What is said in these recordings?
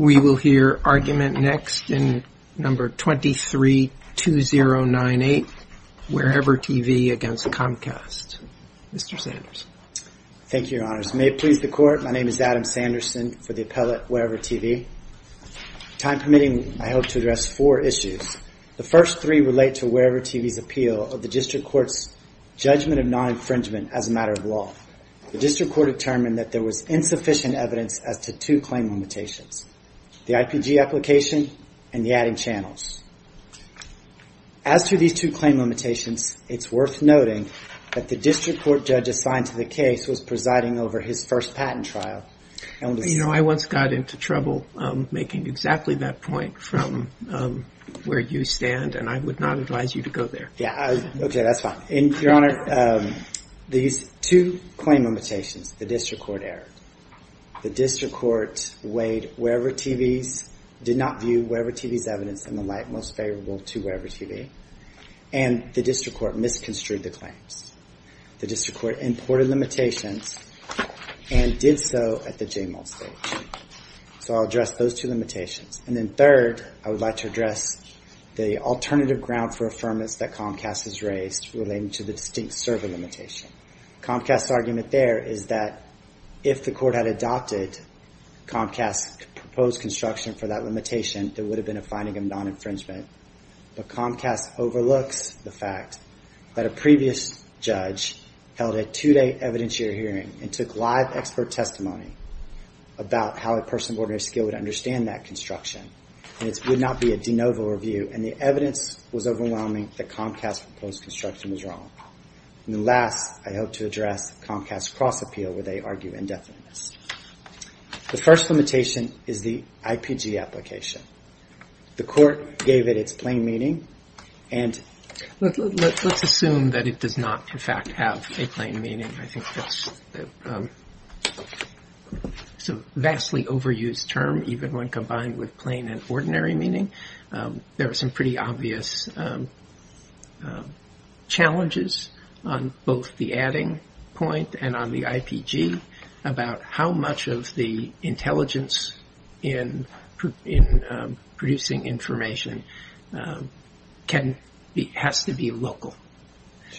We will hear argument next in No. 23-2098, Wherever TV v. Comcast. Mr. Sanders. Thank you, Your Honors. May it please the Court, my name is Adam Sanderson for the appellate Wherever TV. Time permitting, I hope to address four issues. The first three relate to Wherever TV's appeal of the District Court's judgment of non-infringement as a matter of law. The District Court determined that there was insufficient evidence as to two claim limitations, the IPG application and the adding channels. As to these two claim limitations, it's worth noting that the District Court judge assigned to the case was presiding over his first patent trial. You know, I once got into trouble making exactly that point from where you stand, and I would not advise you to go there. Yeah, okay, that's fine. Your Honor, these two claim limitations, the District Court erred. The District Court weighed Wherever TV's, did not view Wherever TV's evidence in the light most favorable to Wherever TV, and the District Court misconstrued the claims. The District Court imported limitations and did so at the JMOL stage. So I'll address those two limitations. And then third, I would like to address the alternative ground for affirmance that Comcast has raised relating to the distinct server limitation. Comcast's argument there is that if the Court had adopted Comcast's proposed construction for that limitation, there would have been a finding of non-infringement. But Comcast overlooks the fact that a previous judge held a two-day evidentiary hearing and took live expert testimony about how a person of ordinary skill would understand that construction, and it would not be a de novo review, and the evidence was overwhelming that Comcast's proposed construction was wrong. And then last, I hope to address Comcast's cross-appeal where they argue indefiniteness. The first limitation is the IPG application. The Court gave it its plain meaning, and... Let's assume that it does not, in fact, have a plain meaning. I think that's a vastly overused term, even when combined with plain and ordinary meaning. There are some pretty obvious challenges on both the adding point and on the IPG about how much of the intelligence in producing information has to be local.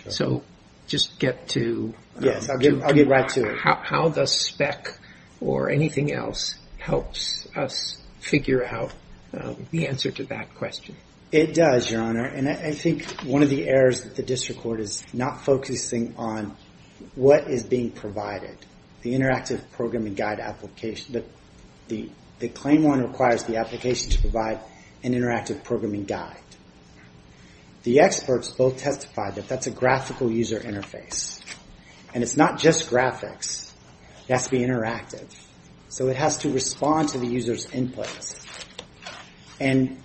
So just get to... Yes, I'll get right to it. How does spec or anything else helps us figure out the answer to that question? It does, Your Honor, and I think one of the errors that the district court is not focusing on what is being provided. The Interactive Programming Guide application, the claim one requires the application to provide an Interactive Programming Guide. The experts both testified that that's a graphical user interface. And it's not just graphics. It has to be interactive. So it has to respond to the user's inputs. And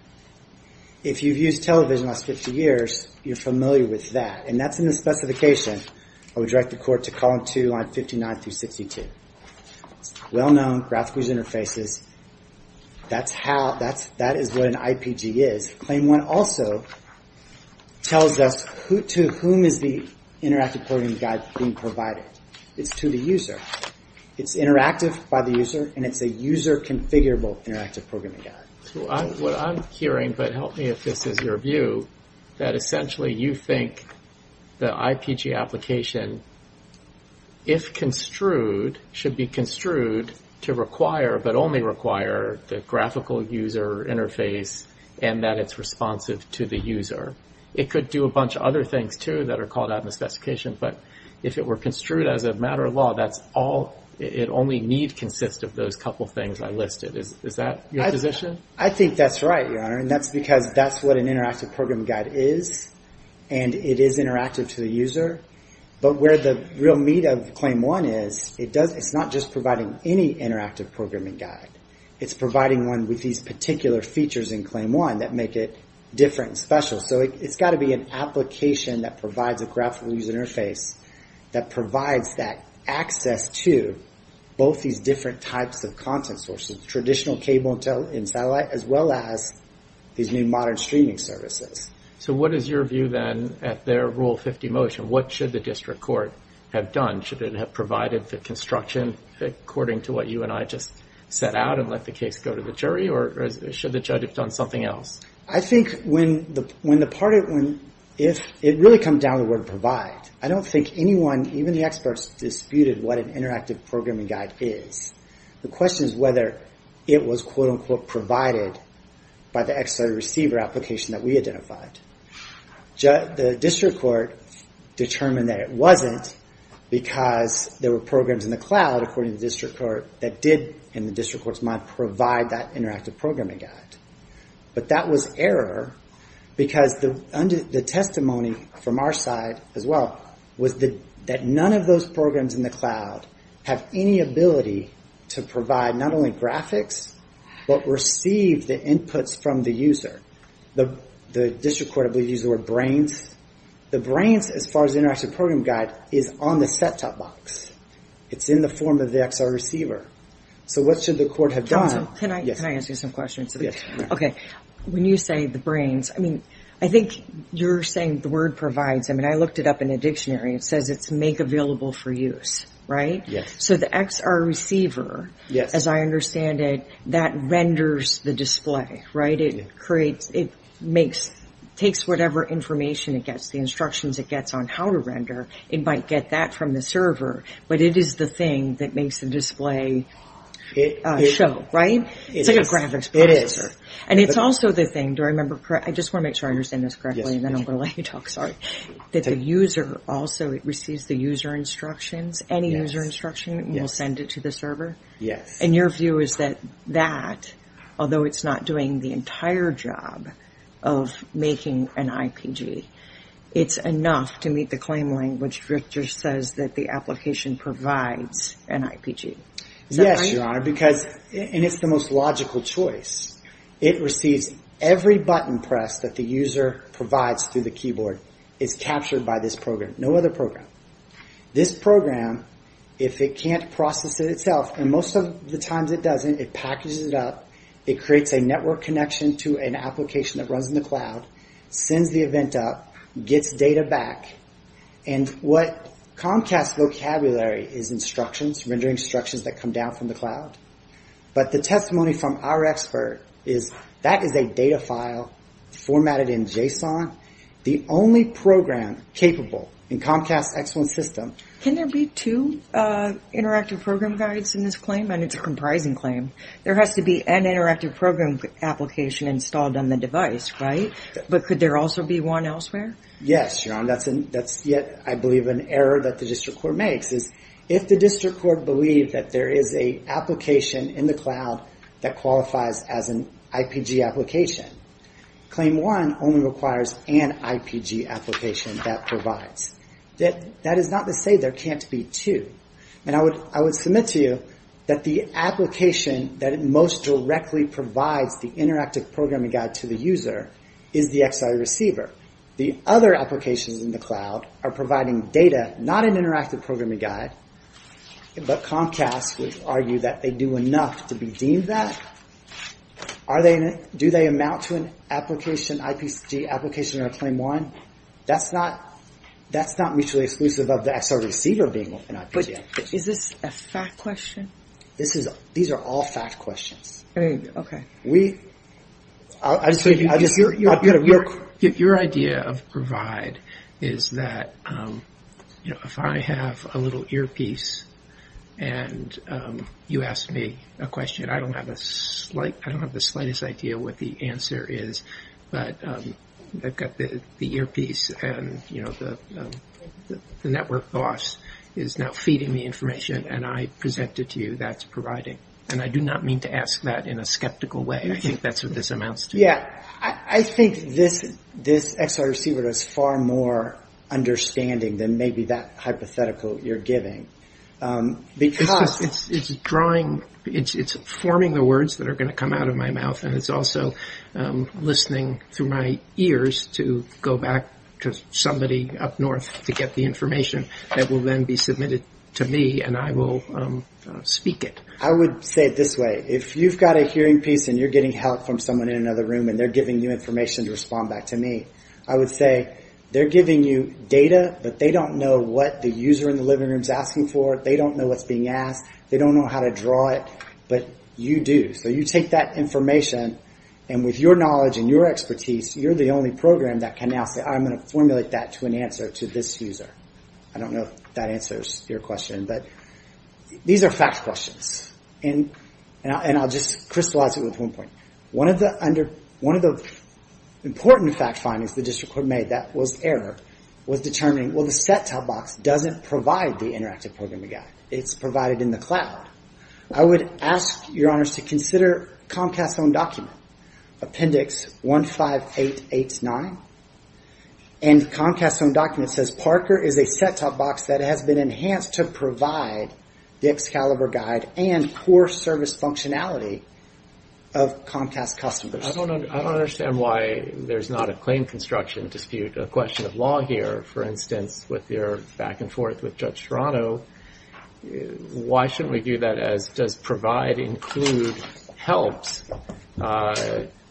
if you've used television the last 50 years, you're familiar with that. And that's in the specification. I would direct the Court to column two, line 59 through 62. Well-known graphical user interfaces. That's how... That is what an IPG is. Claim one also tells us to whom is the Interactive Programming Guide being provided. It's to the user. It's interactive by the user, and it's a user-configurable Interactive Programming Guide. What I'm hearing, but help me if this is your view, that essentially you think the IPG application, if construed, should be construed to require, but only require, the graphical user interface and that it's responsive to the user. It could do a bunch of other things, too, that are called out in the specification. But if it were construed as a matter of law, that's all... It only need consist of those couple things I listed. Is that your position? I think that's right, Your Honor. And that's because that's what an Interactive Programming Guide is. And it is interactive to the user. But where the real meat of claim one is, it's not just providing any Interactive Programming Guide. It's providing one with these particular features in claim one that make it different and special. So it's got to be an application that provides a graphical user interface that provides that access to both these different types of content sources, traditional cable and satellite, as well as these new modern streaming services. So what is your view, then, at their Rule 50 motion? What should the district court have done? Should it have provided the construction according to what you and I just set out and let the case go to the jury? Or should the judge have done something else? I think when the part... If it really comes down to the word provide, I don't think anyone, even the experts, disputed what an Interactive Programming Guide is. The question is whether it was, quote-unquote, provided by the XLA receiver application that we identified. The district court determined that it wasn't because there were programs in the cloud, according to the district court, that did, in the district court's mind, provide that Interactive Programming Guide. But that was error because the testimony from our side, as well, was that none of those programs in the cloud have any ability to provide not only graphics, but receive the inputs from the user. The district court, I believe, used the word brains. The brains, as far as the Interactive Programming Guide, is on the set-top box. It's in the form of the XLA receiver. So what should the court have done? Can I ask you some questions? Okay. When you say the brains, I mean, I think you're saying the word provides. I mean, I looked it up in a dictionary. It says it's make available for use, right? Yes. So the XR receiver, as I understand it, that renders the display, right? It creates, it makes, takes whatever information it gets, the instructions it gets on how to render. It might get that from the server, but it is the thing that makes the display show, right? It's like a graphics processor. And it's also the thing, do I remember, I just want to make sure I understand this correctly, and then I'm going to let you talk, sorry, that the user also, it receives the user instructions, any user instruction, and will send it to the server? Yes. And your view is that that, although it's not doing the entire job of making an IPG, it's enough to meet the claim link, which just says that the application provides an IPG. Is that right? Yes, Your Honor, because, and it's the most logical choice. It receives every button press that the user provides through the keyboard is captured by this program, no other program. This program, if it can't process it itself, and most of the times it doesn't, it packages it up, it creates a network connection to an application that runs in the cloud, sends the event up, gets data back, and what Comcast's vocabulary is instructions, rendering instructions that come down from the cloud, but the testimony from our expert is that is a data file formatted in JSON, the only program capable in Comcast's X1 system. Can there be two interactive program guides in this claim? I mean, it's a comprising claim. There has to be an interactive program application installed on the device, right? But could there also be one elsewhere? Yes, Your Honor. That's yet, I believe, an error that the district court makes, if the district court believed that there is an application in the cloud that qualifies as an IPG application. Claim one only requires an IPG application that provides. That is not to say there can't be two, and I would submit to you that the application that most directly provides the interactive programming guide to the user is the XR receiver. The other applications in the cloud are providing data, not an interactive programming guide, but Comcast would argue that they do enough to be deemed that. Do they amount to an IPG application or a claim one? That's not mutually exclusive of the XR receiver being an IPG application. But is this a fact question? These are all fact questions. Okay. Your idea of provide is that if I have a little earpiece and you ask me a question, I don't have the slightest idea what the answer is, but I've got the earpiece and the network boss is now feeding me information and I present it to you, that's providing. And I do not mean to ask that in a skeptical way. I think that's what this amounts to. I think this XR receiver does far more understanding than maybe that hypothetical you're giving. Because it's drawing, it's forming the words that are going to come out of my mouth and it's also listening through my ears to go back to somebody up north to get the information that will then be submitted to me and I will speak it. I would say it this way. If you've got a hearing piece and you're getting help from someone in another room and they're giving you information to respond back to me, I would say they're giving you data, but they don't know what the user in the living room is asking for. They don't know what's being asked. They don't know how to draw it, but you do. So you take that information and with your knowledge and your expertise, you're the only program that can now say I'm going to formulate that to an answer to this user. I don't know if that answers your question, but these are fact questions. And I'll just crystallize it with one point. One of the important fact findings the district court made, that was error, was determining, well, the set-top box doesn't provide the Interactive Programming Guide. It's provided in the cloud. I would ask your honors to consider Comcast's own document, Appendix 15889. And Comcast's own document says Parker is a set-top box that has been enhanced to provide the Excalibur Guide and core service functionality of Comcast customers. I don't understand why there's not a claim construction dispute, a question of law here, for instance, with your back-and-forth with Judge Serrano. Why shouldn't we do that as does provide include helps,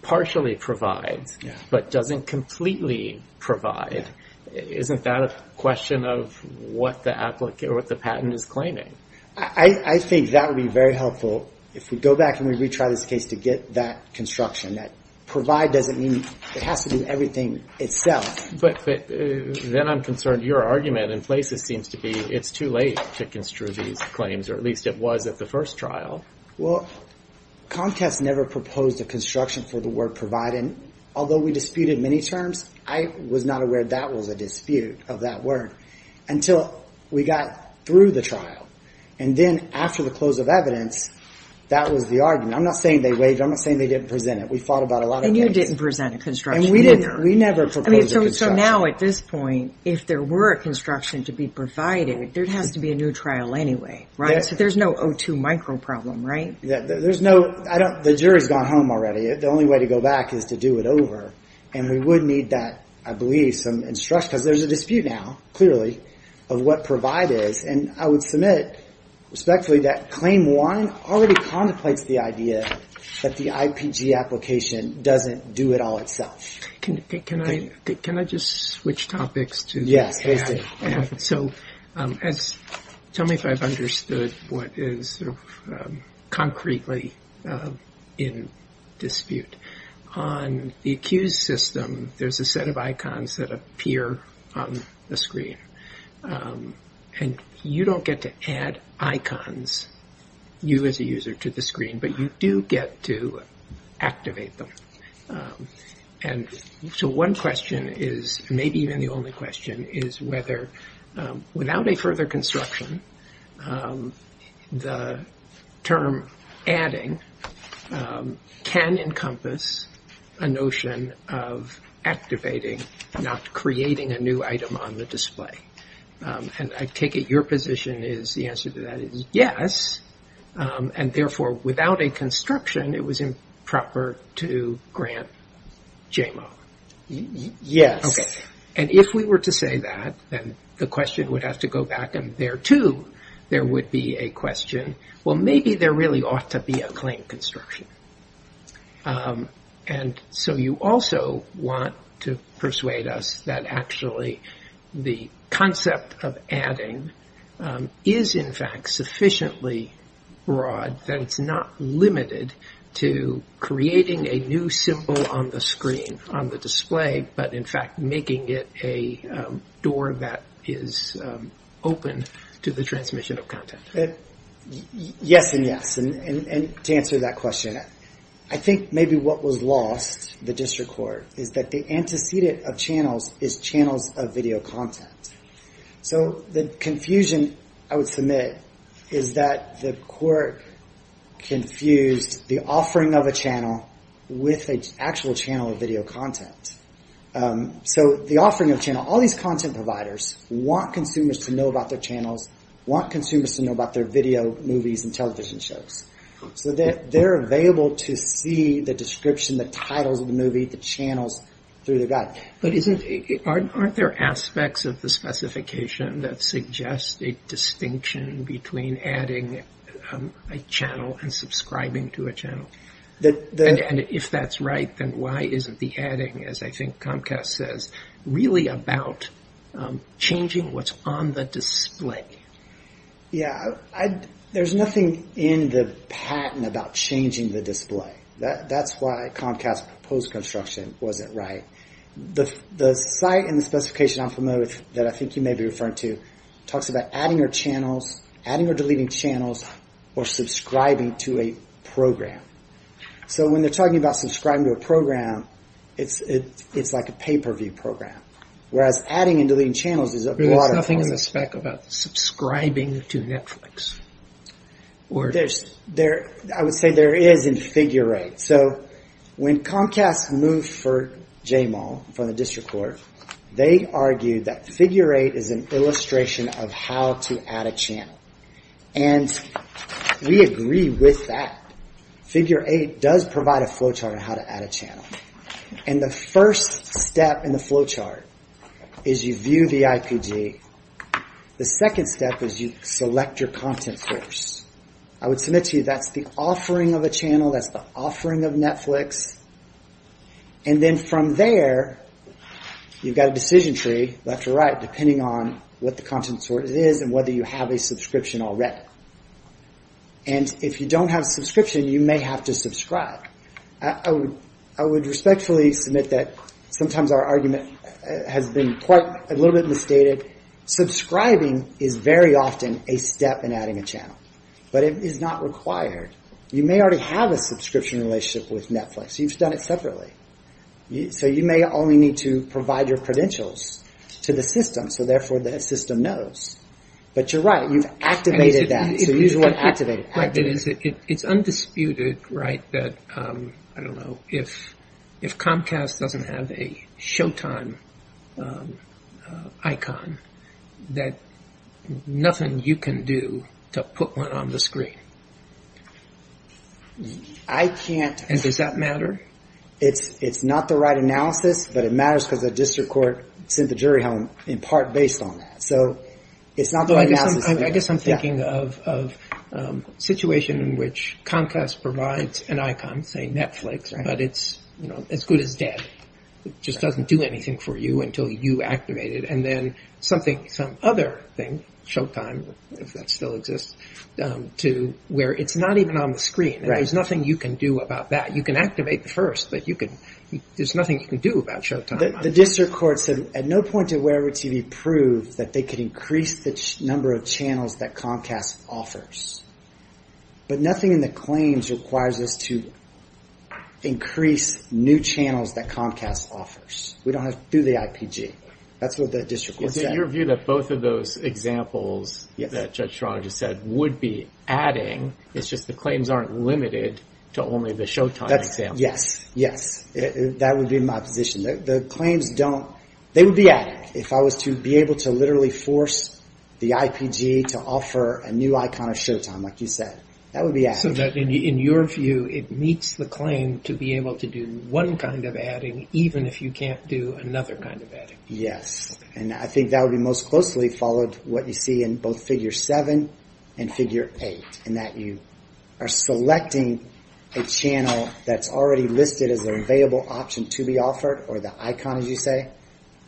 partially provides, but doesn't completely provide? Isn't that a question of what the patent is claiming? I think that would be very helpful if we go back and we retry this case to get that construction. That provide doesn't mean it has to do everything itself. But then I'm concerned your argument in places seems to be it's too late to construe these claims, or at least it was at the first trial. Well, Comcast never proposed a construction for the word provide. And although we disputed many terms, I was not aware that was a dispute of that word until we got through the trial. And then after the close of evidence, that was the argument. I'm not saying they waived it. I'm not saying they didn't present it. We fought about a lot of cases. And you didn't present a construction either. And we never proposed a construction. So now at this point, if there were a construction to be provided, there has to be a new trial anyway, right? So there's no O2 micro problem, right? There's no. The jury's gone home already. The only way to go back is to do it over. And we would need that, I believe, some instruction. Because there's a dispute now, clearly, of what provide is. And I would submit respectfully that claim one already contemplates the idea that the IPG application doesn't do it all itself. Can I just switch topics? Yes, please do. So tell me if I've understood what is concretely in dispute. On the accused system, there's a set of icons that appear on the screen. And you don't get to add icons, you as a user, to the screen. But you do get to activate them. And so one question is, maybe even the only question, is whether without a further construction, the term adding can encompass a notion of activating, not creating a new item on the display. And I take it your position is the answer to that is yes. And therefore, without a construction, it was improper to grant JMO. Okay. And if we were to say that, then the question would have to go back. And there, too, there would be a question, well, maybe there really ought to be a claim construction. And so you also want to persuade us that actually the concept of adding is in fact sufficiently broad that it's not limited to creating a new symbol on the screen, on the display, but in fact making it a door that is open to the transmission of content. Yes and yes. And to answer that question, I think maybe what was lost, the district court, is that the antecedent of channels is channels of video content. So the confusion I would submit is that the court confused the offering of a channel with an actual channel of video content. So the offering of a channel, all these content providers want consumers to know about their channels, want consumers to know about their video movies and television shows. So they're available to see the description, the titles of the movie, the channels through the gut. But aren't there aspects of the specification that suggest a distinction between adding a channel and subscribing to a channel? And if that's right, then why isn't the adding, as I think Comcast says, really about changing what's on the display? Yeah, there's nothing in the patent about changing the display. That's why Comcast's proposed construction wasn't right. The site and the specification I'm familiar with that I think you may be referring to talks about adding or deleting channels or subscribing to a program. So when they're talking about subscribing to a program, it's like a pay-per-view program. Whereas adding and deleting channels is a broader problem. But there's nothing in the spec about subscribing to Netflix? I would say there is in figure eight. So when Comcast moved for JMAL from the district court, they argued that figure eight is an illustration of how to add a channel. And we agree with that. Figure eight does provide a flowchart on how to add a channel. And the first step in the flowchart is you view the IPG. The second step is you select your content source. I would submit to you that's the offering of a channel, that's the offering of Netflix. And then from there, you've got a decision tree, left or right, depending on what the content source is and whether you have a subscription already. And if you don't have a subscription, you may have to subscribe. I would respectfully submit that sometimes our argument has been a little bit misstated. Subscribing is very often a step in adding a channel. But it is not required. You may already have a subscription relationship with Netflix. You've done it separately. So you may only need to provide your credentials to the system, so therefore the system knows. But you're right, you've activated that. So you just want to activate it. It's undisputed, right, that, I don't know, if Comcast doesn't have a showtime icon, that nothing you can do to put one on the screen. I can't. And does that matter? It's not the right analysis, but it matters because the district court sent the jury home in part based on that. So it's not the right analysis. I guess I'm thinking of a situation in which Comcast provides an icon, say Netflix, but it's as good as dead. It just doesn't do anything for you until you activate it. And then some other thing, showtime, if that still exists, where it's not even on the screen. There's nothing you can do about that. You can activate the first, but there's nothing you can do about showtime. The district court said at no point did Wearable TV prove that they could increase the number of channels that Comcast offers. But nothing in the claims requires us to increase new channels that Comcast offers. We don't have to do the IPG. That's what the district court said. Is it your view that both of those examples that Judge Sharada just said would be adding, it's just the claims aren't limited to only the showtime example? Yes. Yes. That would be my position. The claims don't, they would be adding. If I was to be able to literally force the IPG to offer a new icon of showtime, like you said, that would be adding. So that in your view, it meets the claim to be able to do one kind of adding, even if you can't do another kind of adding. Yes. And I think that would be most closely followed what you see in both Figure 7 and Figure 8, in that you are selecting a channel that's already listed as an available option to be offered, or the icon, as you say,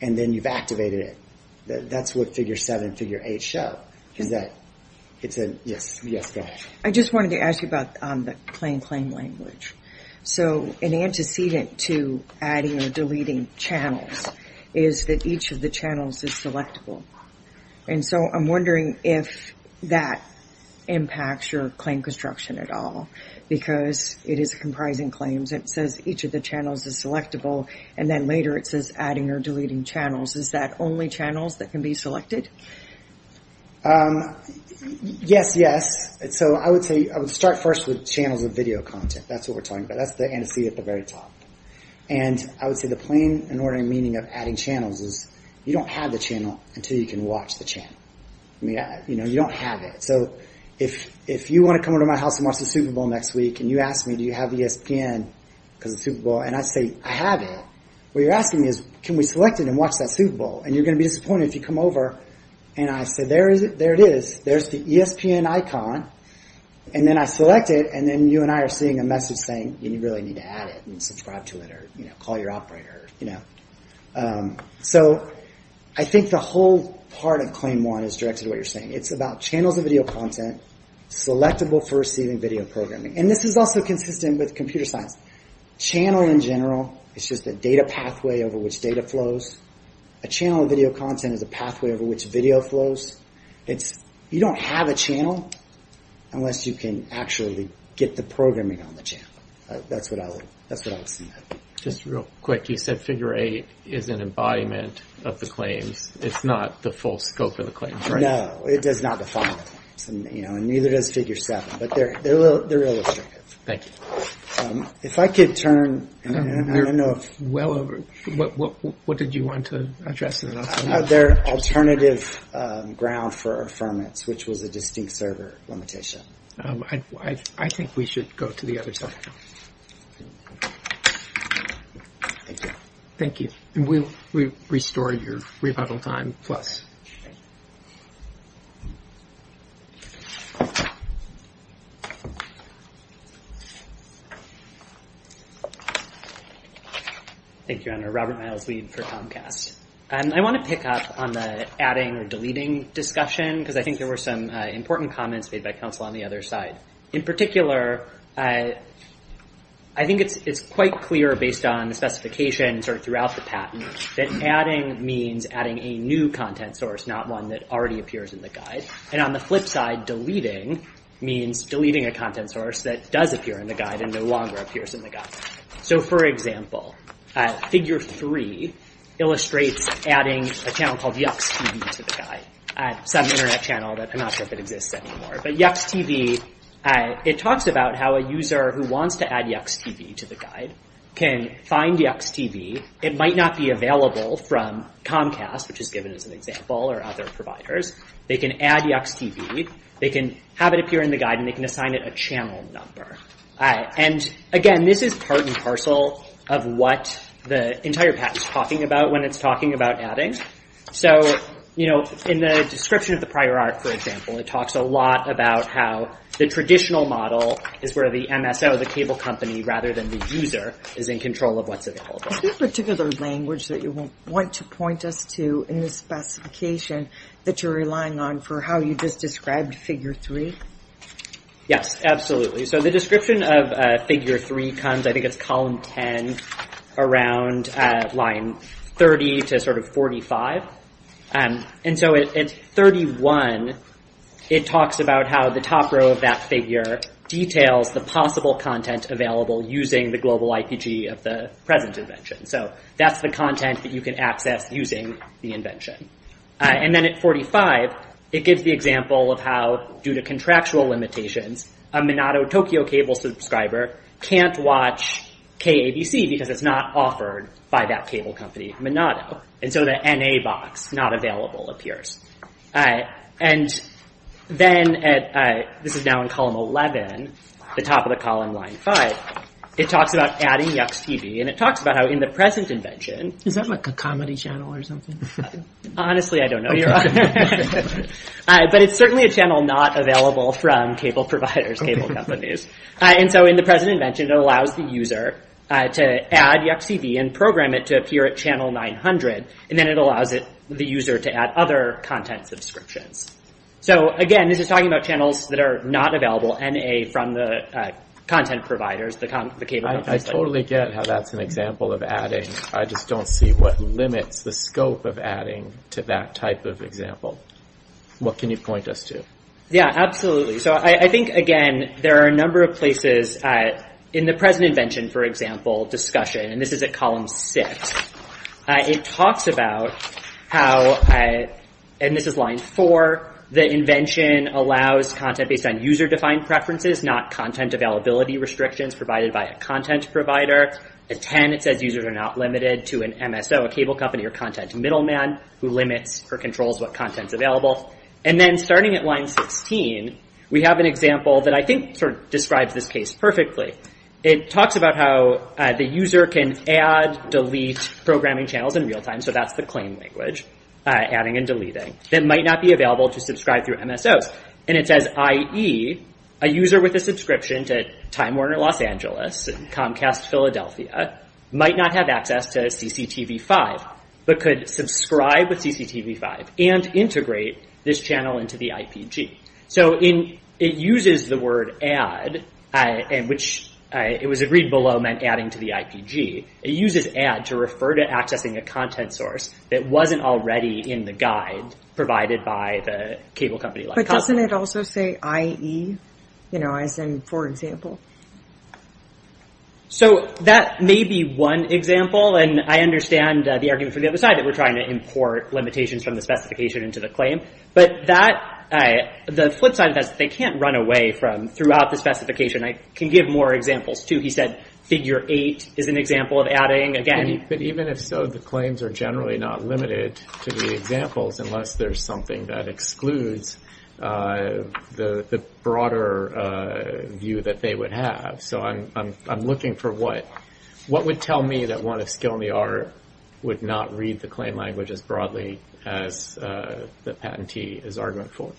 and then you've activated it. That's what Figure 7 and Figure 8 show, is that it's a, yes, go ahead. I just wanted to ask you about the claim-claim language. So an antecedent to adding or deleting channels is that each of the channels is selectable. And so I'm wondering if that impacts your claim construction at all, because it is comprising claims. It says each of the channels is selectable, and then later it says adding or deleting channels. Is that only channels that can be selected? Yes. Yes, yes. So I would say I would start first with channels of video content. That's what we're talking about. That's the antecedent at the very top. And I would say the plain and ordinary meaning of adding channels is you don't have the channel until you can watch the channel. You don't have it. So if you want to come over to my house and watch the Super Bowl next week, and you ask me, do you have the ESPN because of the Super Bowl, and I say, I have it. What you're asking me is, can we select it and watch that Super Bowl? And you're going to be disappointed if you come over, and I say, there it is. There's the ESPN icon, and then I select it, and then you and I are seeing a message saying, you really need to add it and subscribe to it or call your operator. So I think the whole part of Claim 1 is directed to what you're saying. It's about channels of video content selectable for receiving video programming. And this is also consistent with computer science. Channel in general is just a data pathway over which data flows. A channel of video content is a pathway over which video flows. You don't have a channel unless you can actually get the programming on the channel. That's what I would say. Just real quick, you said Figure 8 is an embodiment of the claims. It's not the full scope of the claims, right? No, it does not define the claims, and neither does Figure 7. But they're illustrative. Thank you. If I could turn... I don't know if... What did you want to address? Their alternative ground for affirmance, which was a distinct server limitation. I think we should go to the other side. Thank you. Thank you. And we'll restore your rebuttal time plus. Thank you. Thank you, Your Honor. Robert Miles, lead for Comcast. I want to pick up on the adding or deleting discussion because I think there were some important comments made by counsel on the other side. In particular, I think it's quite clear based on the specifications or throughout the patent that adding means adding a new content source, not one that already appears in the guide. And on the flip side, deleting means deleting a content source that does appear in the guide and no longer appears in the guide. So, for example, Figure 3 illustrates adding a channel called Yuck's TV to the guide, some Internet channel that I'm not sure that exists anymore. But Yuck's TV, it talks about how a user who wants to add Yuck's TV to the guide can find Yuck's TV. It might not be available from Comcast, which is given as an example, or other providers. They can add Yuck's TV. They can have it appear in the guide, and they can assign it a channel number. And, again, this is part and parcel of what the entire patent is talking about when it's talking about adding. So, you know, in the description of the prior art, for example, it talks a lot about how the traditional model is where the MSO, the cable company, rather than the user is in control of what's available. Is there a particular language that you want to point us to in the specification that you're relying on for how you just described Figure 3? Yes, absolutely. So the description of Figure 3 comes, I think it's column 10, around line 30 to sort of 45. And so at 31, it talks about how the top row of that figure details the possible content available using the global IPG of the present invention. So that's the content that you can access using the invention. And then at 45, it gives the example of how, due to contractual limitations, a Monado Tokyo cable subscriber can't watch KABC because it's not offered by that cable company, Monado. And so the NA box, not available, appears. And then, this is now in column 11, the top of the column, line 5. It talks about adding Yuck's TV, and it talks about how in the present invention- Is it a comedy channel or something? Honestly, I don't know. But it's certainly a channel not available from cable providers, cable companies. And so in the present invention, it allows the user to add Yuck's TV and program it to appear at channel 900, and then it allows the user to add other content subscriptions. So again, this is talking about channels that are not available, and from the content providers, the cable companies. I totally get how that's an example of adding. I just don't see what limits the scope of adding to that type of example. What can you point us to? Yeah, absolutely. So I think, again, there are a number of places in the present invention, for example, discussion. And this is at column 6. It talks about how, and this is line 4, the invention allows content based on user-defined preferences, not content availability restrictions provided by a content provider. At 10, it says users are not limited to an MSO, a cable company or content middleman, who limits or controls what content is available. And then starting at line 16, we have an example that I think describes this case perfectly. It talks about how the user can add, delete programming channels in real time, so that's the claim language, adding and deleting, that might not be available to subscribe through MSOs. And it says, i.e., a user with a subscription to Time Warner Los Angeles and Comcast Philadelphia might not have access to CCTV5, but could subscribe with CCTV5 and integrate this channel into the IPG. So it uses the word add, which it was agreed below meant adding to the IPG. It uses add to refer to accessing a content source that wasn't already in the guide provided by the cable company. But doesn't it also say i.e., you know, as in, for example? So that may be one example, and I understand the argument from the other side that we're trying to import limitations from the specification into the claim. But the flip side of that is that they can't run away from throughout the specification. I can give more examples, too. He said figure 8 is an example of adding again. But even if so, the claims are generally not limited to the examples unless there's something that excludes the broader view that they would have. So I'm looking for what would tell me that one of skill and the art would not read the claim language as broadly as the patentee is argument for.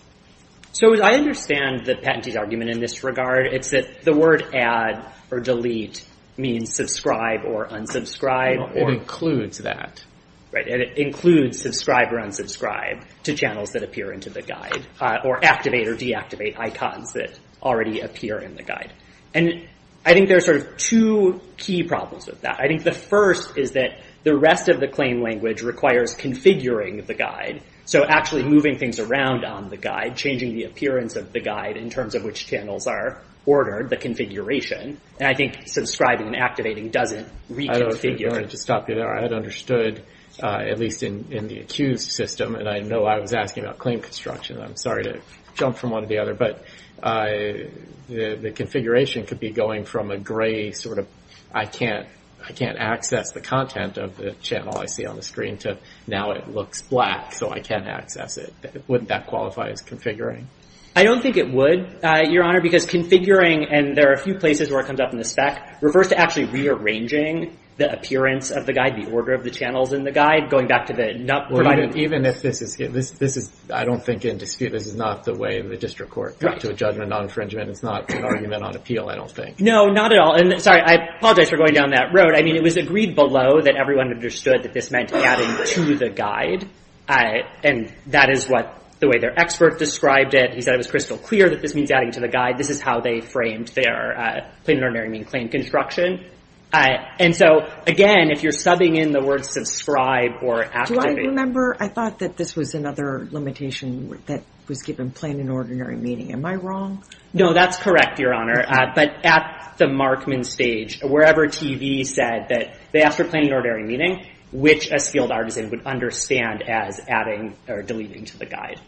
So I understand the patentee's argument in this regard. It's that the word add or delete means subscribe or unsubscribe. It includes that. Right, and it includes subscribe or unsubscribe to channels that appear into the guide or activate or deactivate icons that already appear in the guide. And I think there are sort of two key problems with that. I think the first is that the rest of the claim language requires configuring the guide, so actually moving things around on the guide, changing the appearance of the guide in terms of which channels are ordered, the configuration. And I think subscribing and activating doesn't reconfigure. I don't know if you want me to stop you there. I had understood, at least in the accused system, and I know I was asking about claim construction. I'm sorry to jump from one to the other, but the configuration could be going from a gray sort of I can't access the content of the channel I see on the screen to now it looks black, so I can't access it. Wouldn't that qualify as configuring? I don't think it would, Your Honor, because configuring, and there are a few places where it comes up in the spec, refers to actually rearranging the appearance of the guide, the order of the channels in the guide, going back to the not providing. Even if this is, I don't think in dispute, this is not the way the district court got to a judgment on infringement. It's not an argument on appeal, I don't think. No, not at all. And sorry, I apologize for going down that road. I mean, it was agreed below that everyone understood that this meant adding to the guide, and that is what the way their expert described it. He said it was crystal clear that this means adding to the guide. This is how they framed their plain and ordinary mean claim construction. And so, again, if you're subbing in the words subscribe or activate. Do I remember? I thought that this was another limitation that was given plain and ordinary meaning. Am I wrong? No, that's correct, Your Honor, but at the Markman stage, wherever TV said that they asked for plain and ordinary meaning, which a skilled artisan would understand as adding or deleting to the guide.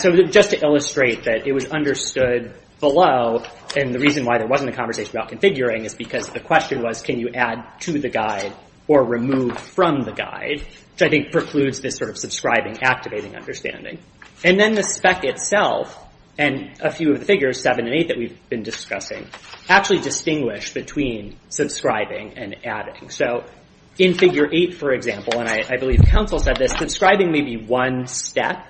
So just to illustrate that it was understood below, and the reason why there wasn't a conversation about configuring is because the question was, can you add to the guide or remove from the guide, which I think precludes this sort of subscribing, activating understanding. And then the spec itself, and a few of the figures, seven and eight, that we've been discussing actually distinguish between subscribing and adding. So in figure eight, for example, and I believe counsel said this, subscribing may be one step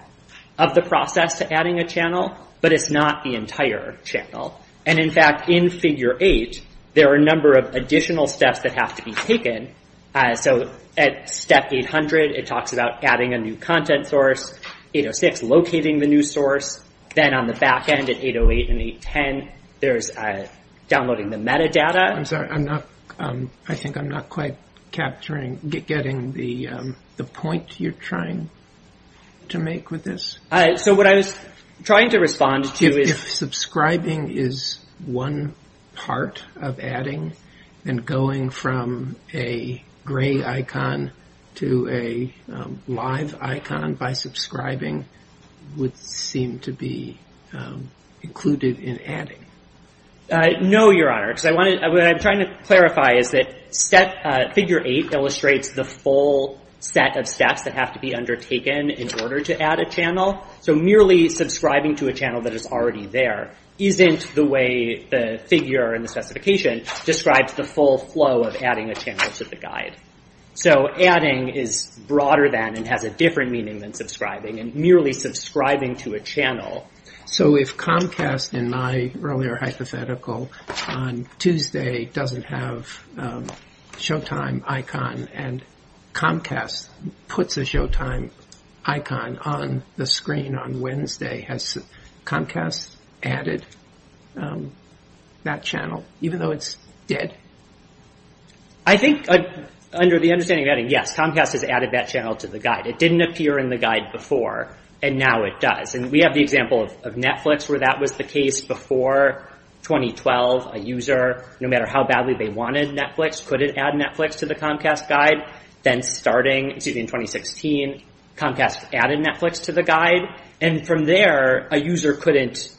of the process to adding a channel, but it's not the entire channel. And, in fact, in figure eight, there are a number of additional steps that have to be taken. So at step 800, it talks about adding a new content source. 806, locating the new source. Then on the back end at 808 and 810, there's downloading the metadata. I'm sorry, I think I'm not quite getting the point you're trying to make with this. So what I was trying to respond to is. If subscribing is one part of adding, then going from a gray icon to a live icon by subscribing would seem to be included in adding. No, Your Honor. What I'm trying to clarify is that figure eight illustrates the full set of steps that have to be undertaken in order to add a channel. So merely subscribing to a channel that is already there isn't the way the figure in the specification describes the full flow of adding a channel to the guide. So adding is broader than and has a different meaning than subscribing and merely subscribing to a channel. So if Comcast, in my earlier hypothetical, on Tuesday doesn't have a Showtime icon and Comcast puts a Showtime icon on the screen on Wednesday, has Comcast added that channel even though it's dead? I think under the understanding of adding, yes. Comcast has added that channel to the guide. It didn't appear in the guide before and now it does. And we have the example of Netflix where that was the case before 2012. A user, no matter how badly they wanted Netflix, couldn't add Netflix to the Comcast guide. Then starting in 2016, Comcast added Netflix to the guide. And from there, a user couldn't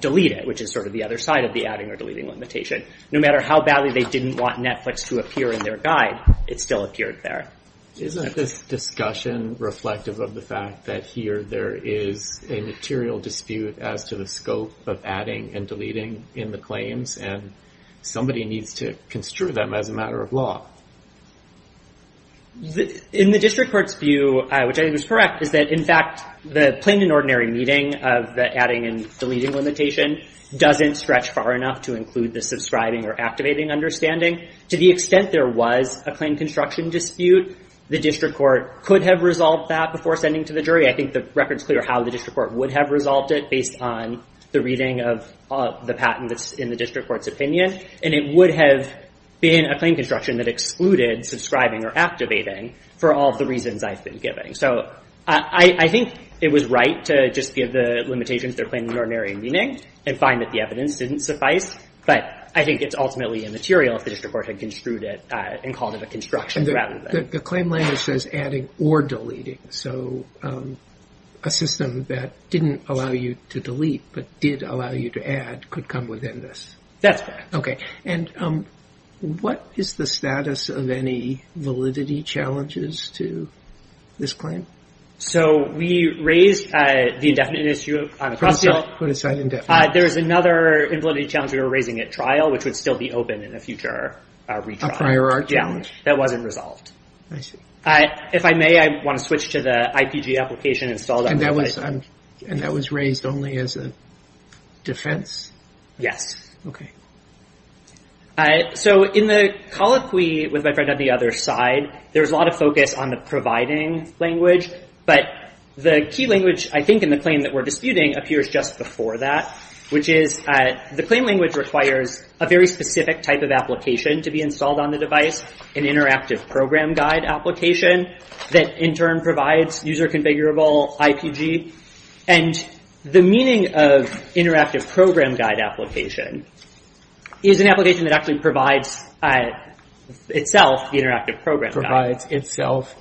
delete it, which is sort of the other side of the adding or deleting limitation. No matter how badly they didn't want Netflix to appear in their guide, it still appeared there. Isn't this discussion reflective of the fact that here there is a material dispute as to the scope of adding and deleting in the claims and somebody needs to construe them as a matter of law? In the district court's view, which I think is correct, is that, in fact, the plain and ordinary meaning of the adding and deleting limitation doesn't stretch far enough to include the subscribing or activating understanding. To the extent there was a claim construction dispute, the district court could have resolved that before sending to the jury. I think the record's clear how the district court would have resolved it based on the reading of the patent that's in the district court's opinion. And it would have been a claim construction that excluded subscribing or activating for all of the reasons I've been giving. So I think it was right to just give the limitations their plain and ordinary meaning and find that the evidence didn't suffice. But I think it's ultimately immaterial if the district court had construed it and called it a construction rather than... The claim language says adding or deleting. So a system that didn't allow you to delete but did allow you to add could come within this. That's correct. Okay. And what is the status of any validity challenges to this claim? So we raised the indefinite issue on the cross deal. Put aside indefinite. There is another invalidity challenge we were raising at trial, which would still be open in a future retrial. A prior art challenge. Yeah. That wasn't resolved. I see. If I may, I want to switch to the IPG application installed on the website. And that was raised only as a defense? Yes. Okay. So in the colloquy with my friend on the other side, there's a lot of focus on the providing language. But the key language I think in the claim that we're disputing appears just before that, which is the claim language requires a very specific type of application to be installed on the device, an interactive program guide application that in turn provides user configurable IPG. And the meaning of interactive program guide application is an application that actually provides itself, the interactive program guide.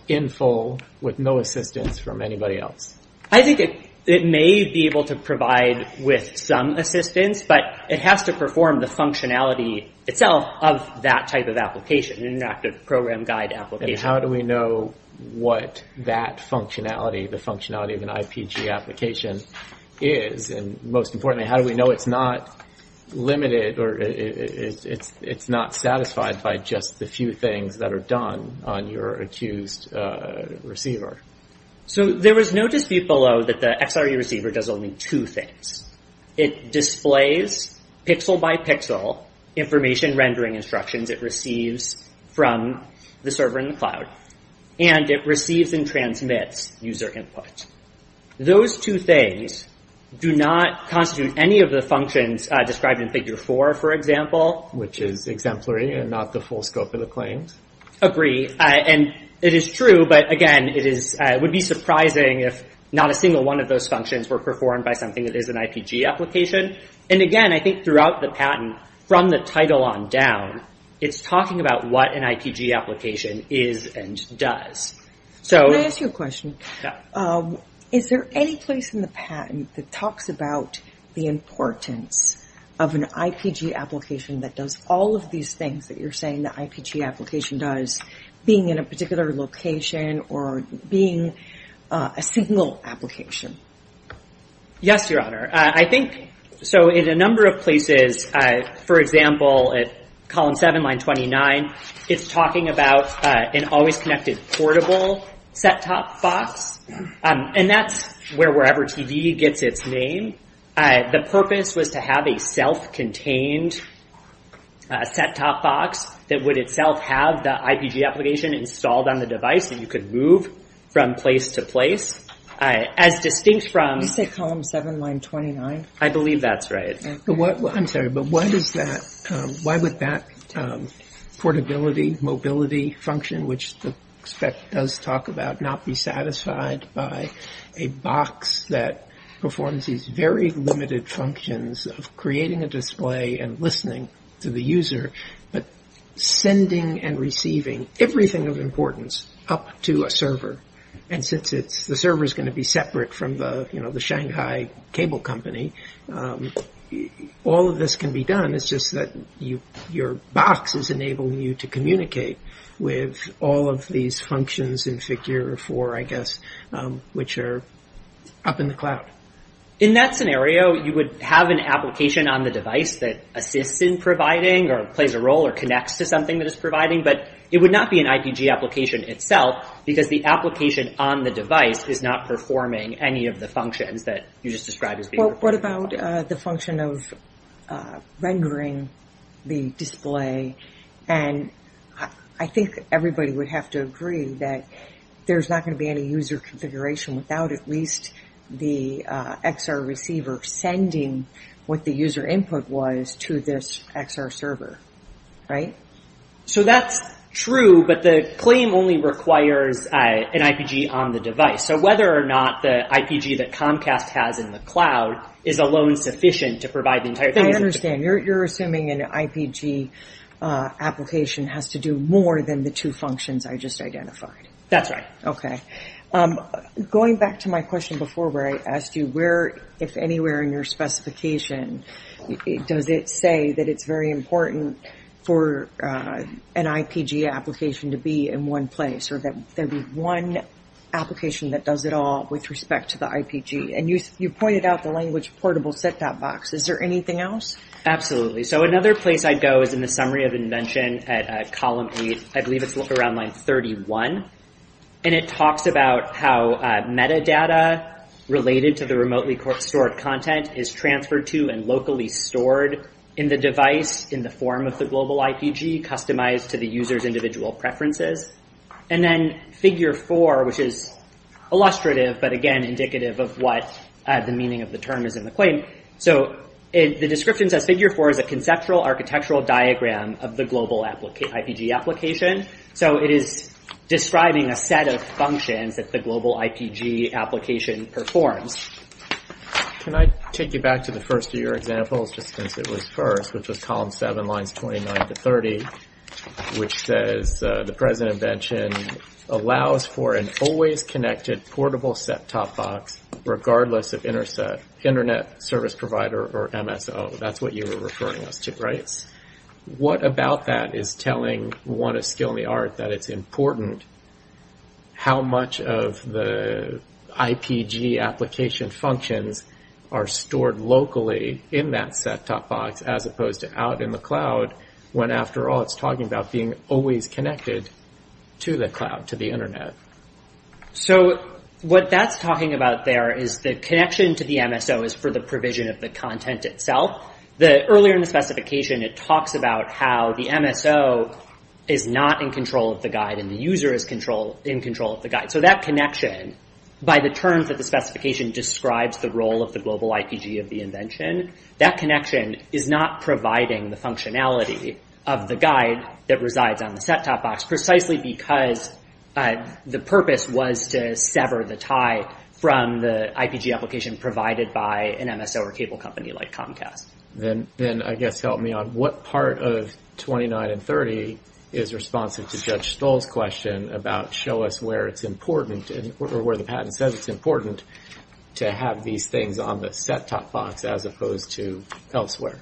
In full with no assistance from anybody else. I think it may be able to provide with some assistance, but it has to perform the functionality itself of that type of application, an interactive program guide application. And how do we know what that functionality, the functionality of an IPG application is? And most importantly, how do we know it's not limited or it's not satisfied by just the few things that are done on your accused receiver? So there was no dispute below that the XRE receiver does only two things. It displays pixel by pixel information rendering instructions it receives from the server in the cloud. And it receives and transmits user input. Those two things do not constitute any of the functions described in figure four, for example. Which is exemplary and not the full scope of the claims. Agree. And it is true. But again, it would be surprising if not a single one of those functions were performed by something that is an IPG application. And again, I think throughout the patent from the title on down, it's talking about what an IPG application is and does. Can I ask you a question? Yeah. Is there any place in the patent that talks about the importance of an IPG application that does all of these things that you're saying the IPG application does, being in a particular location or being a single application? Yes, Your Honor. I think, so in a number of places, for example, at column seven, line 29, it's talking about an always-connected portable set-top box. And that's where wherever TV gets its name. The purpose was to have a self-contained set-top box that would itself have the IPG application installed on the device and you could move from place to place. As distinct from- Did you say column seven, line 29? I believe that's right. I'm sorry, but what is that? Why would that portability, mobility function, which the spec does talk about, not be satisfied by a box that performs these very limited functions of creating a display and listening to the user, but sending and receiving everything of importance up to a server? And since the server is going to be separate from the Shanghai cable company, all of this can be done. It's just that your box is enabling you to communicate with all of these functions in figure four, I guess, which are up in the cloud. In that scenario, you would have an application on the device that assists in providing or plays a role or connects to something that it's providing, but it would not be an IPG application itself because the application on the device is not performing any of the functions that you just described as being- What about the function of rendering the display? And I think everybody would have to agree that there's not going to be any user configuration without at least the XR receiver sending what the user input was to this XR server, right? So that's true, but the claim only requires an IPG on the device. So whether or not the IPG that Comcast has in the cloud is alone sufficient to provide the entire- I understand. You're assuming an IPG application has to do more than the two functions I just identified. That's right. Okay. Going back to my question before where I asked you, if anywhere in your specification does it say that it's very important for an IPG application to be in one place or that there be one application that does it all with respect to the IPG? And you pointed out the language portable set-top box. Is there anything else? Absolutely. So another place I'd go is in the summary of invention at column eight. I believe it's around line 31, and it talks about how metadata related to the remotely stored content is transferred to and locally stored in the device in the form of the global IPG customized to the user's individual preferences. And then figure four, which is illustrative, but again indicative of what the meaning of the term is in the claim. So the description says figure four is a conceptual architectural diagram of the global IPG application. So it is describing a set of functions that the global IPG application performs. Can I take you back to the first of your examples, just since it was first, which was column seven, lines 29 to 30, which says the present invention allows for an always connected portable set-top box regardless of internet service provider or MSO. That's what you were referring us to, right? What about that is telling one a skill in the art that it's important how much of the IPG application functions are stored locally in that set-top box as opposed to out in the cloud when, after all, it's talking about being always connected to the cloud, to the internet? So what that's talking about there is the connection to the MSO is for the provision of the content itself. Earlier in the specification, it talks about how the MSO is not in control of the guide and the user is in control of the guide. So that connection, by the terms of the specification, describes the role of the global IPG of the invention. That connection is not providing the functionality of the guide that resides on the set-top box precisely because the purpose was to sever the tie from the IPG application provided by an MSO or cable company like Comcast. Then, I guess, help me out. What part of 29 and 30 is responsive to Judge Stoll's question about show us where it's important or where the patent says it's important to have these things on the set-top box as opposed to elsewhere?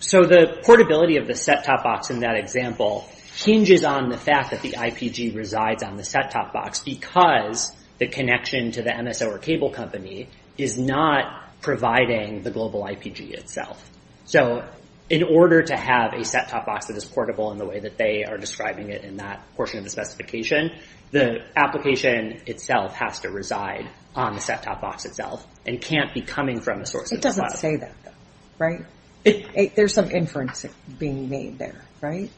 So the portability of the set-top box in that example hinges on the fact that the IPG resides on the set-top box because the connection to the MSO or cable company is not providing the global IPG itself. So in order to have a set-top box that is portable in the way that they are describing it in that portion of the specification, the application itself has to reside on the set-top box itself and can't be coming from a source that's not. It doesn't say that, though, right? There's some inference being made there, right?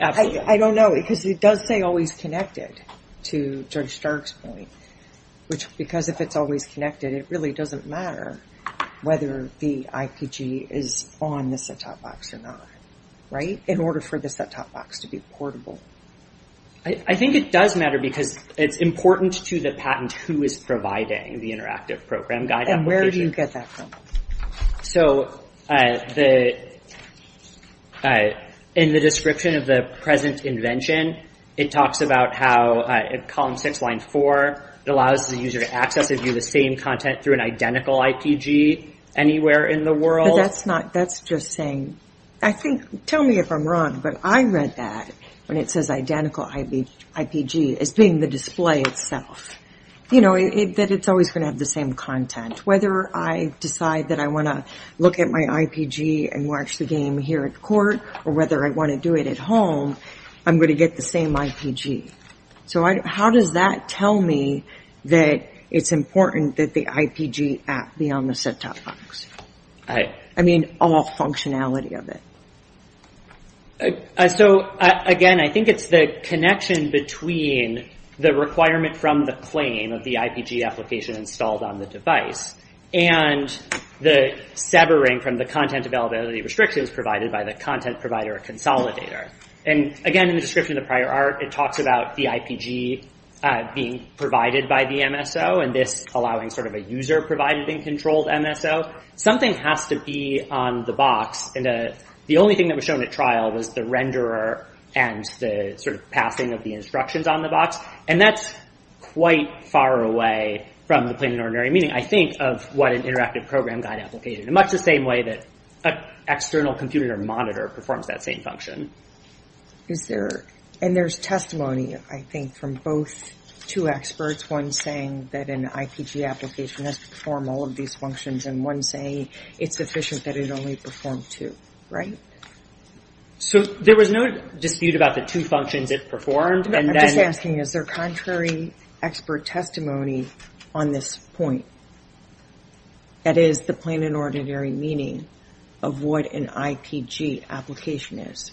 Absolutely. I don't know, because it does say always connected to Judge Stark's point. Because if it's always connected, it really doesn't matter whether the IPG is on the set-top box or not, right? In order for the set-top box to be portable. I think it does matter because it's important to the patent who is providing the interactive program guide application. And where do you get that from? So in the description of the present invention, it talks about how in column six, line four, it allows the user to access and view the same content through an identical IPG anywhere in the world. But that's not, that's just saying, I think, tell me if I'm wrong, but I read that when it says identical IPG as being the display itself. You know, that it's always going to have the same content. Whether I decide that I want to look at my IPG and watch the game here at court, or whether I want to do it at home, I'm going to get the same IPG. So how does that tell me that it's important that the IPG app be on the set-top box? I mean, all functionality of it. So, again, I think it's the connection between the requirement from the claim of the IPG application installed on the device and the severing from the content availability restrictions provided by the content provider consolidator. And, again, in the description of the prior art, it talks about the IPG being provided by the MSO and this allowing sort of a user-provided and controlled MSO. Something has to be on the box, and the only thing that was shown at trial was the renderer and the sort of passing of the instructions on the box. And that's quite far away from the plain and ordinary meaning, I think, of what an interactive program guide application. In much the same way that an external computer monitor performs that same function. And there's testimony, I think, from both two experts, one saying that an IPG application has to perform all of these functions and one saying it's sufficient that it only perform two, right? So there was no dispute about the two functions it performed. I'm just asking, is there contrary expert testimony on this point? That is, the plain and ordinary meaning of what an IPG application is.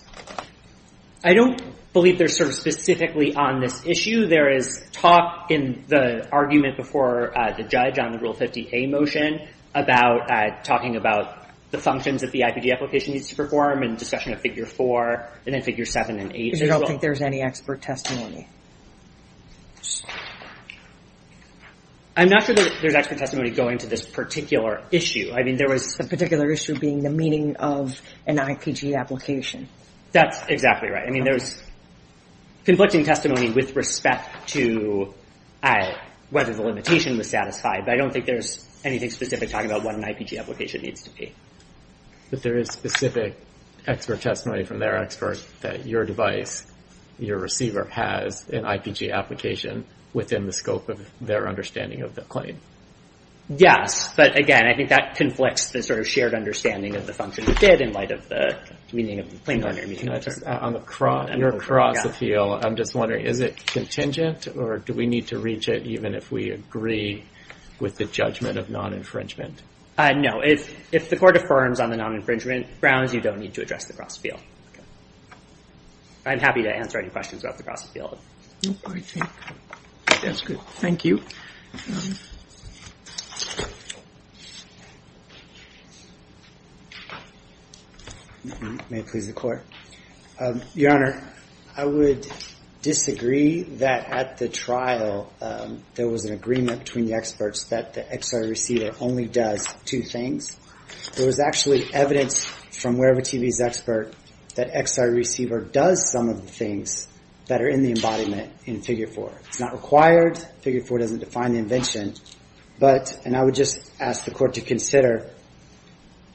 I don't believe there's sort of specifically on this issue. There is talk in the argument before the judge on the Rule 50A motion about talking about the functions that the IPG application needs to perform and discussion of Figure 4 and then Figure 7 and 8 as well. I don't think there's any expert testimony. I'm not sure that there's expert testimony going to this particular issue. The particular issue being the meaning of an IPG application. That's exactly right. I mean, there's conflicting testimony with respect to whether the limitation was satisfied, but I don't think there's anything specific talking about what an IPG application needs to be. But there is specific expert testimony from their expert that your device, your receiver, has an IPG application within the scope of their understanding of the claim. Yes, but again, I think that conflicts the sort of shared understanding of the function it did in light of the meaning of the plain and ordinary meaning. You're across the field. I'm just wondering, is it contingent, or do we need to reach it even if we agree with the judgment of non-infringement? No. If the court affirms on the non-infringement grounds, you don't need to address the cross-field. I'm happy to answer any questions about the cross-field. I think that's good. Thank you. May it please the Court. Your Honor, I would disagree that at the trial there was an agreement between the experts that the XR receiver only does two things. There was actually evidence from wherever TV's expert that XR receiver does some of the things that are in the embodiment in Figure 4. It's not required. Figure 4 doesn't define the invention. And I would just ask the Court to consider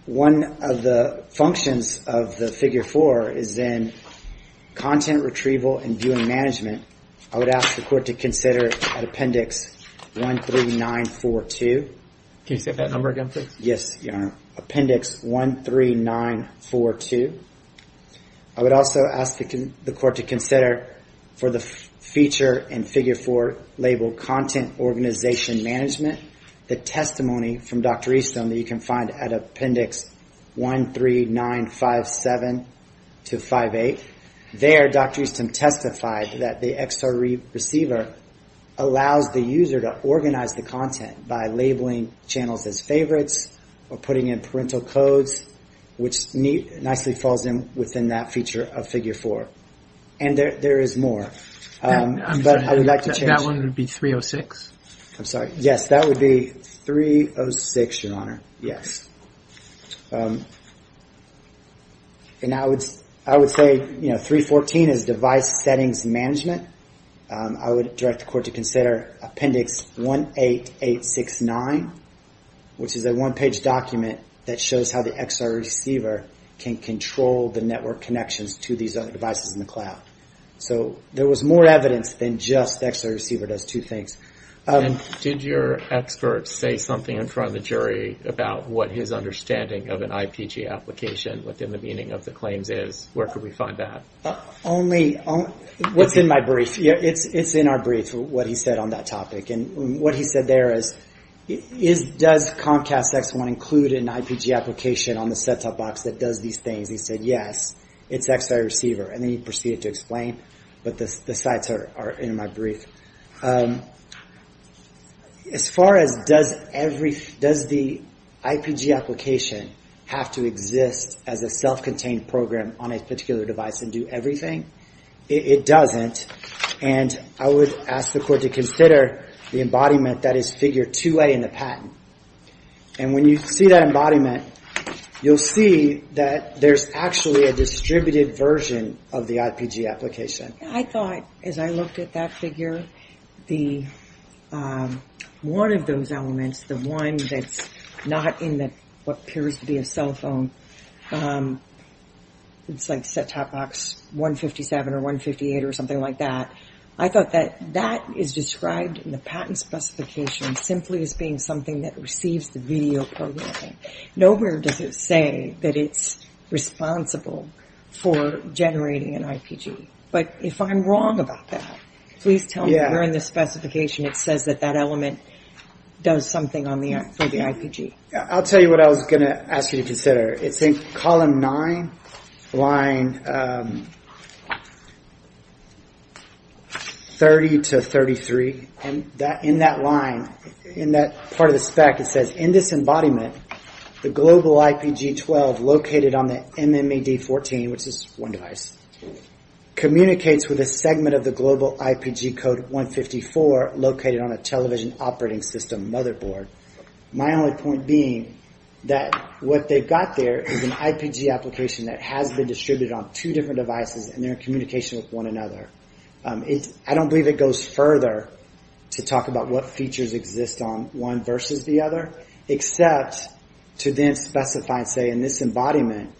one of the functions of the Figure 4 is then content retrieval and viewing management. I would ask the Court to consider at Appendix 13942. Can you say that number again, please? Yes, Your Honor. Appendix 13942. I would also ask the Court to consider for the feature in Figure 4 labeled content organization management, the testimony from Dr. Easton that you can find at Appendix 13957-58. There, Dr. Easton testified that the XR receiver allows the user to organize the content by labeling channels as favorites or putting in parental codes, which nicely falls in within that feature of Figure 4. And there is more. I'm sorry, that one would be 306? I'm sorry. Yes, that would be 306, Your Honor. Yes. And I would say 314 is device settings management. I would direct the Court to consider Appendix 18869, which is a one-page document that shows how the XR receiver can control the network connections to these other devices in the cloud. So there was more evidence than just the XR receiver does two things. And did your expert say something in front of the jury about what his understanding of an IPG application within the meaning of the claims is? Where could we find that? What's in my brief. It's in our brief, what he said on that topic. And what he said there is, does Comcast X1 include an IPG application on the set-top box that does these things? He said, yes, it's XR receiver. And then he proceeded to explain, but the sites are in my brief. As far as does the IPG application have to exist as a self-contained program on a particular device and do everything? It doesn't. And I would ask the Court to consider the embodiment that is Figure 2A in the patent. And when you see that embodiment, you'll see that there's actually a distributed version of the IPG application. I thought, as I looked at that figure, one of those elements, the one that's not in what appears to be a cell phone, it's like set-top box 157 or 158 or something like that. I thought that that is described in the patent specification simply as being something that receives the video programming. Nowhere does it say that it's responsible for generating an IPG. But if I'm wrong about that, please tell me where in the specification it says that that element does something for the IPG. I'll tell you what I was going to ask you to consider. It's in column 9, line 30 to 33. In that line, in that part of the spec, it says, in this embodiment, the global IPG-12 located on the MMAD-14, which is one device, communicates with a segment of the global IPG code 154 located on a television operating system motherboard. My only point being that what they've got there is an IPG application that has been distributed on two different devices, and they're in communication with one another. I don't believe it goes further to talk about what features exist on one versus the other, except to then specify and say, in this embodiment,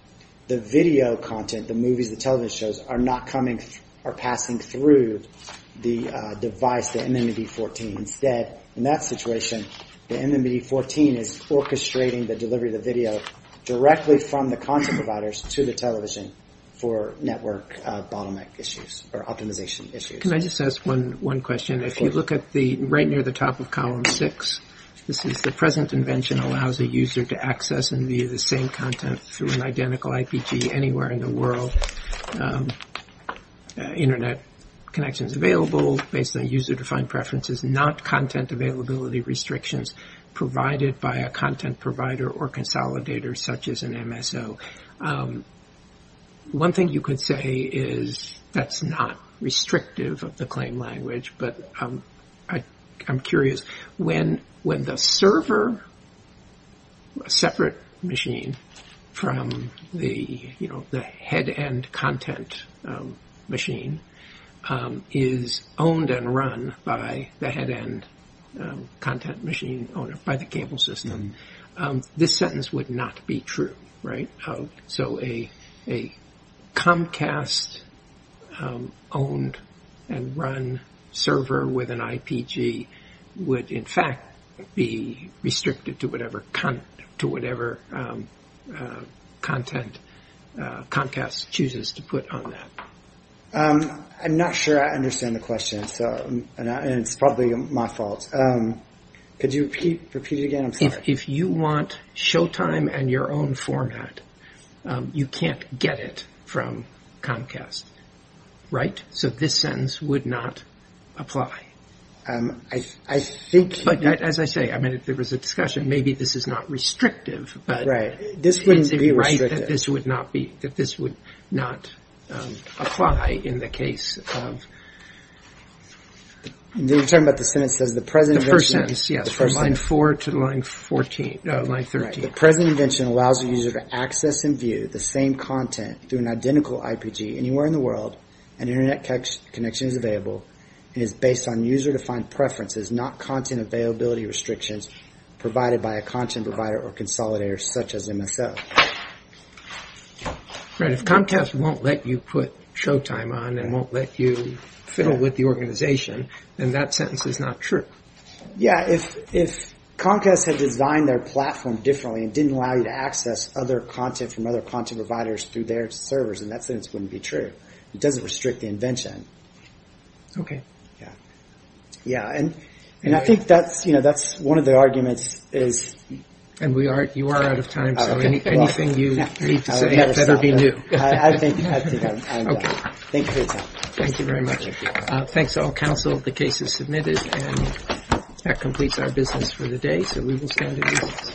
the video content, the movies, the television shows, are not passing through the device, the MMAD-14. Instead, in that situation, the MMAD-14 is orchestrating the delivery of the video directly from the content providers to the television for network bottleneck issues or optimization issues. Can I just ask one question? If you look right near the top of column 6, this is the present invention allows a user to access and view the same content through an identical IPG anywhere in the world. Internet connection is available based on user-defined preferences, not content availability restrictions provided by a content provider or consolidator such as an MSO. One thing you could say is that's not restrictive of the claim language, but I'm curious. When the server, a separate machine, from the head-end content machine, is owned and run by the head-end content machine owner, by the cable system, this sentence would not be true, right? So a Comcast-owned and run server with an IPG would, in fact, be restricted to whatever content Comcast chooses to put on that. I'm not sure I understand the question, and it's probably my fault. Could you repeat it again? I'm sorry. If you want Showtime and your own format, you can't get it from Comcast, right? So this sentence would not apply. As I say, if there was a discussion, maybe this is not restrictive, but is it right that this would not apply in the case of... You're talking about the sentence that says... The first sentence, yes, from line 4 to line 13. The present invention allows the user to access and view the same content through an identical IPG anywhere in the world, and internet connection is available and is based on user-defined preferences, not content availability restrictions provided by a content provider or consolidator such as MSO. Right, if Comcast won't let you put Showtime on and won't let you fiddle with the organization, then that sentence is not true. Yeah, if Comcast had designed their platform differently and didn't allow you to access other content from other content providers through their servers, then that sentence wouldn't be true. It doesn't restrict the invention. Yeah. Yeah, and I think that's one of the arguments is... And you are out of time, so anything you need to submit better be new. I think I'm done. Thank you for your time. Thank you very much. Thanks to all counsel. The case is submitted, and that completes our business for the day, so we will stand at ease.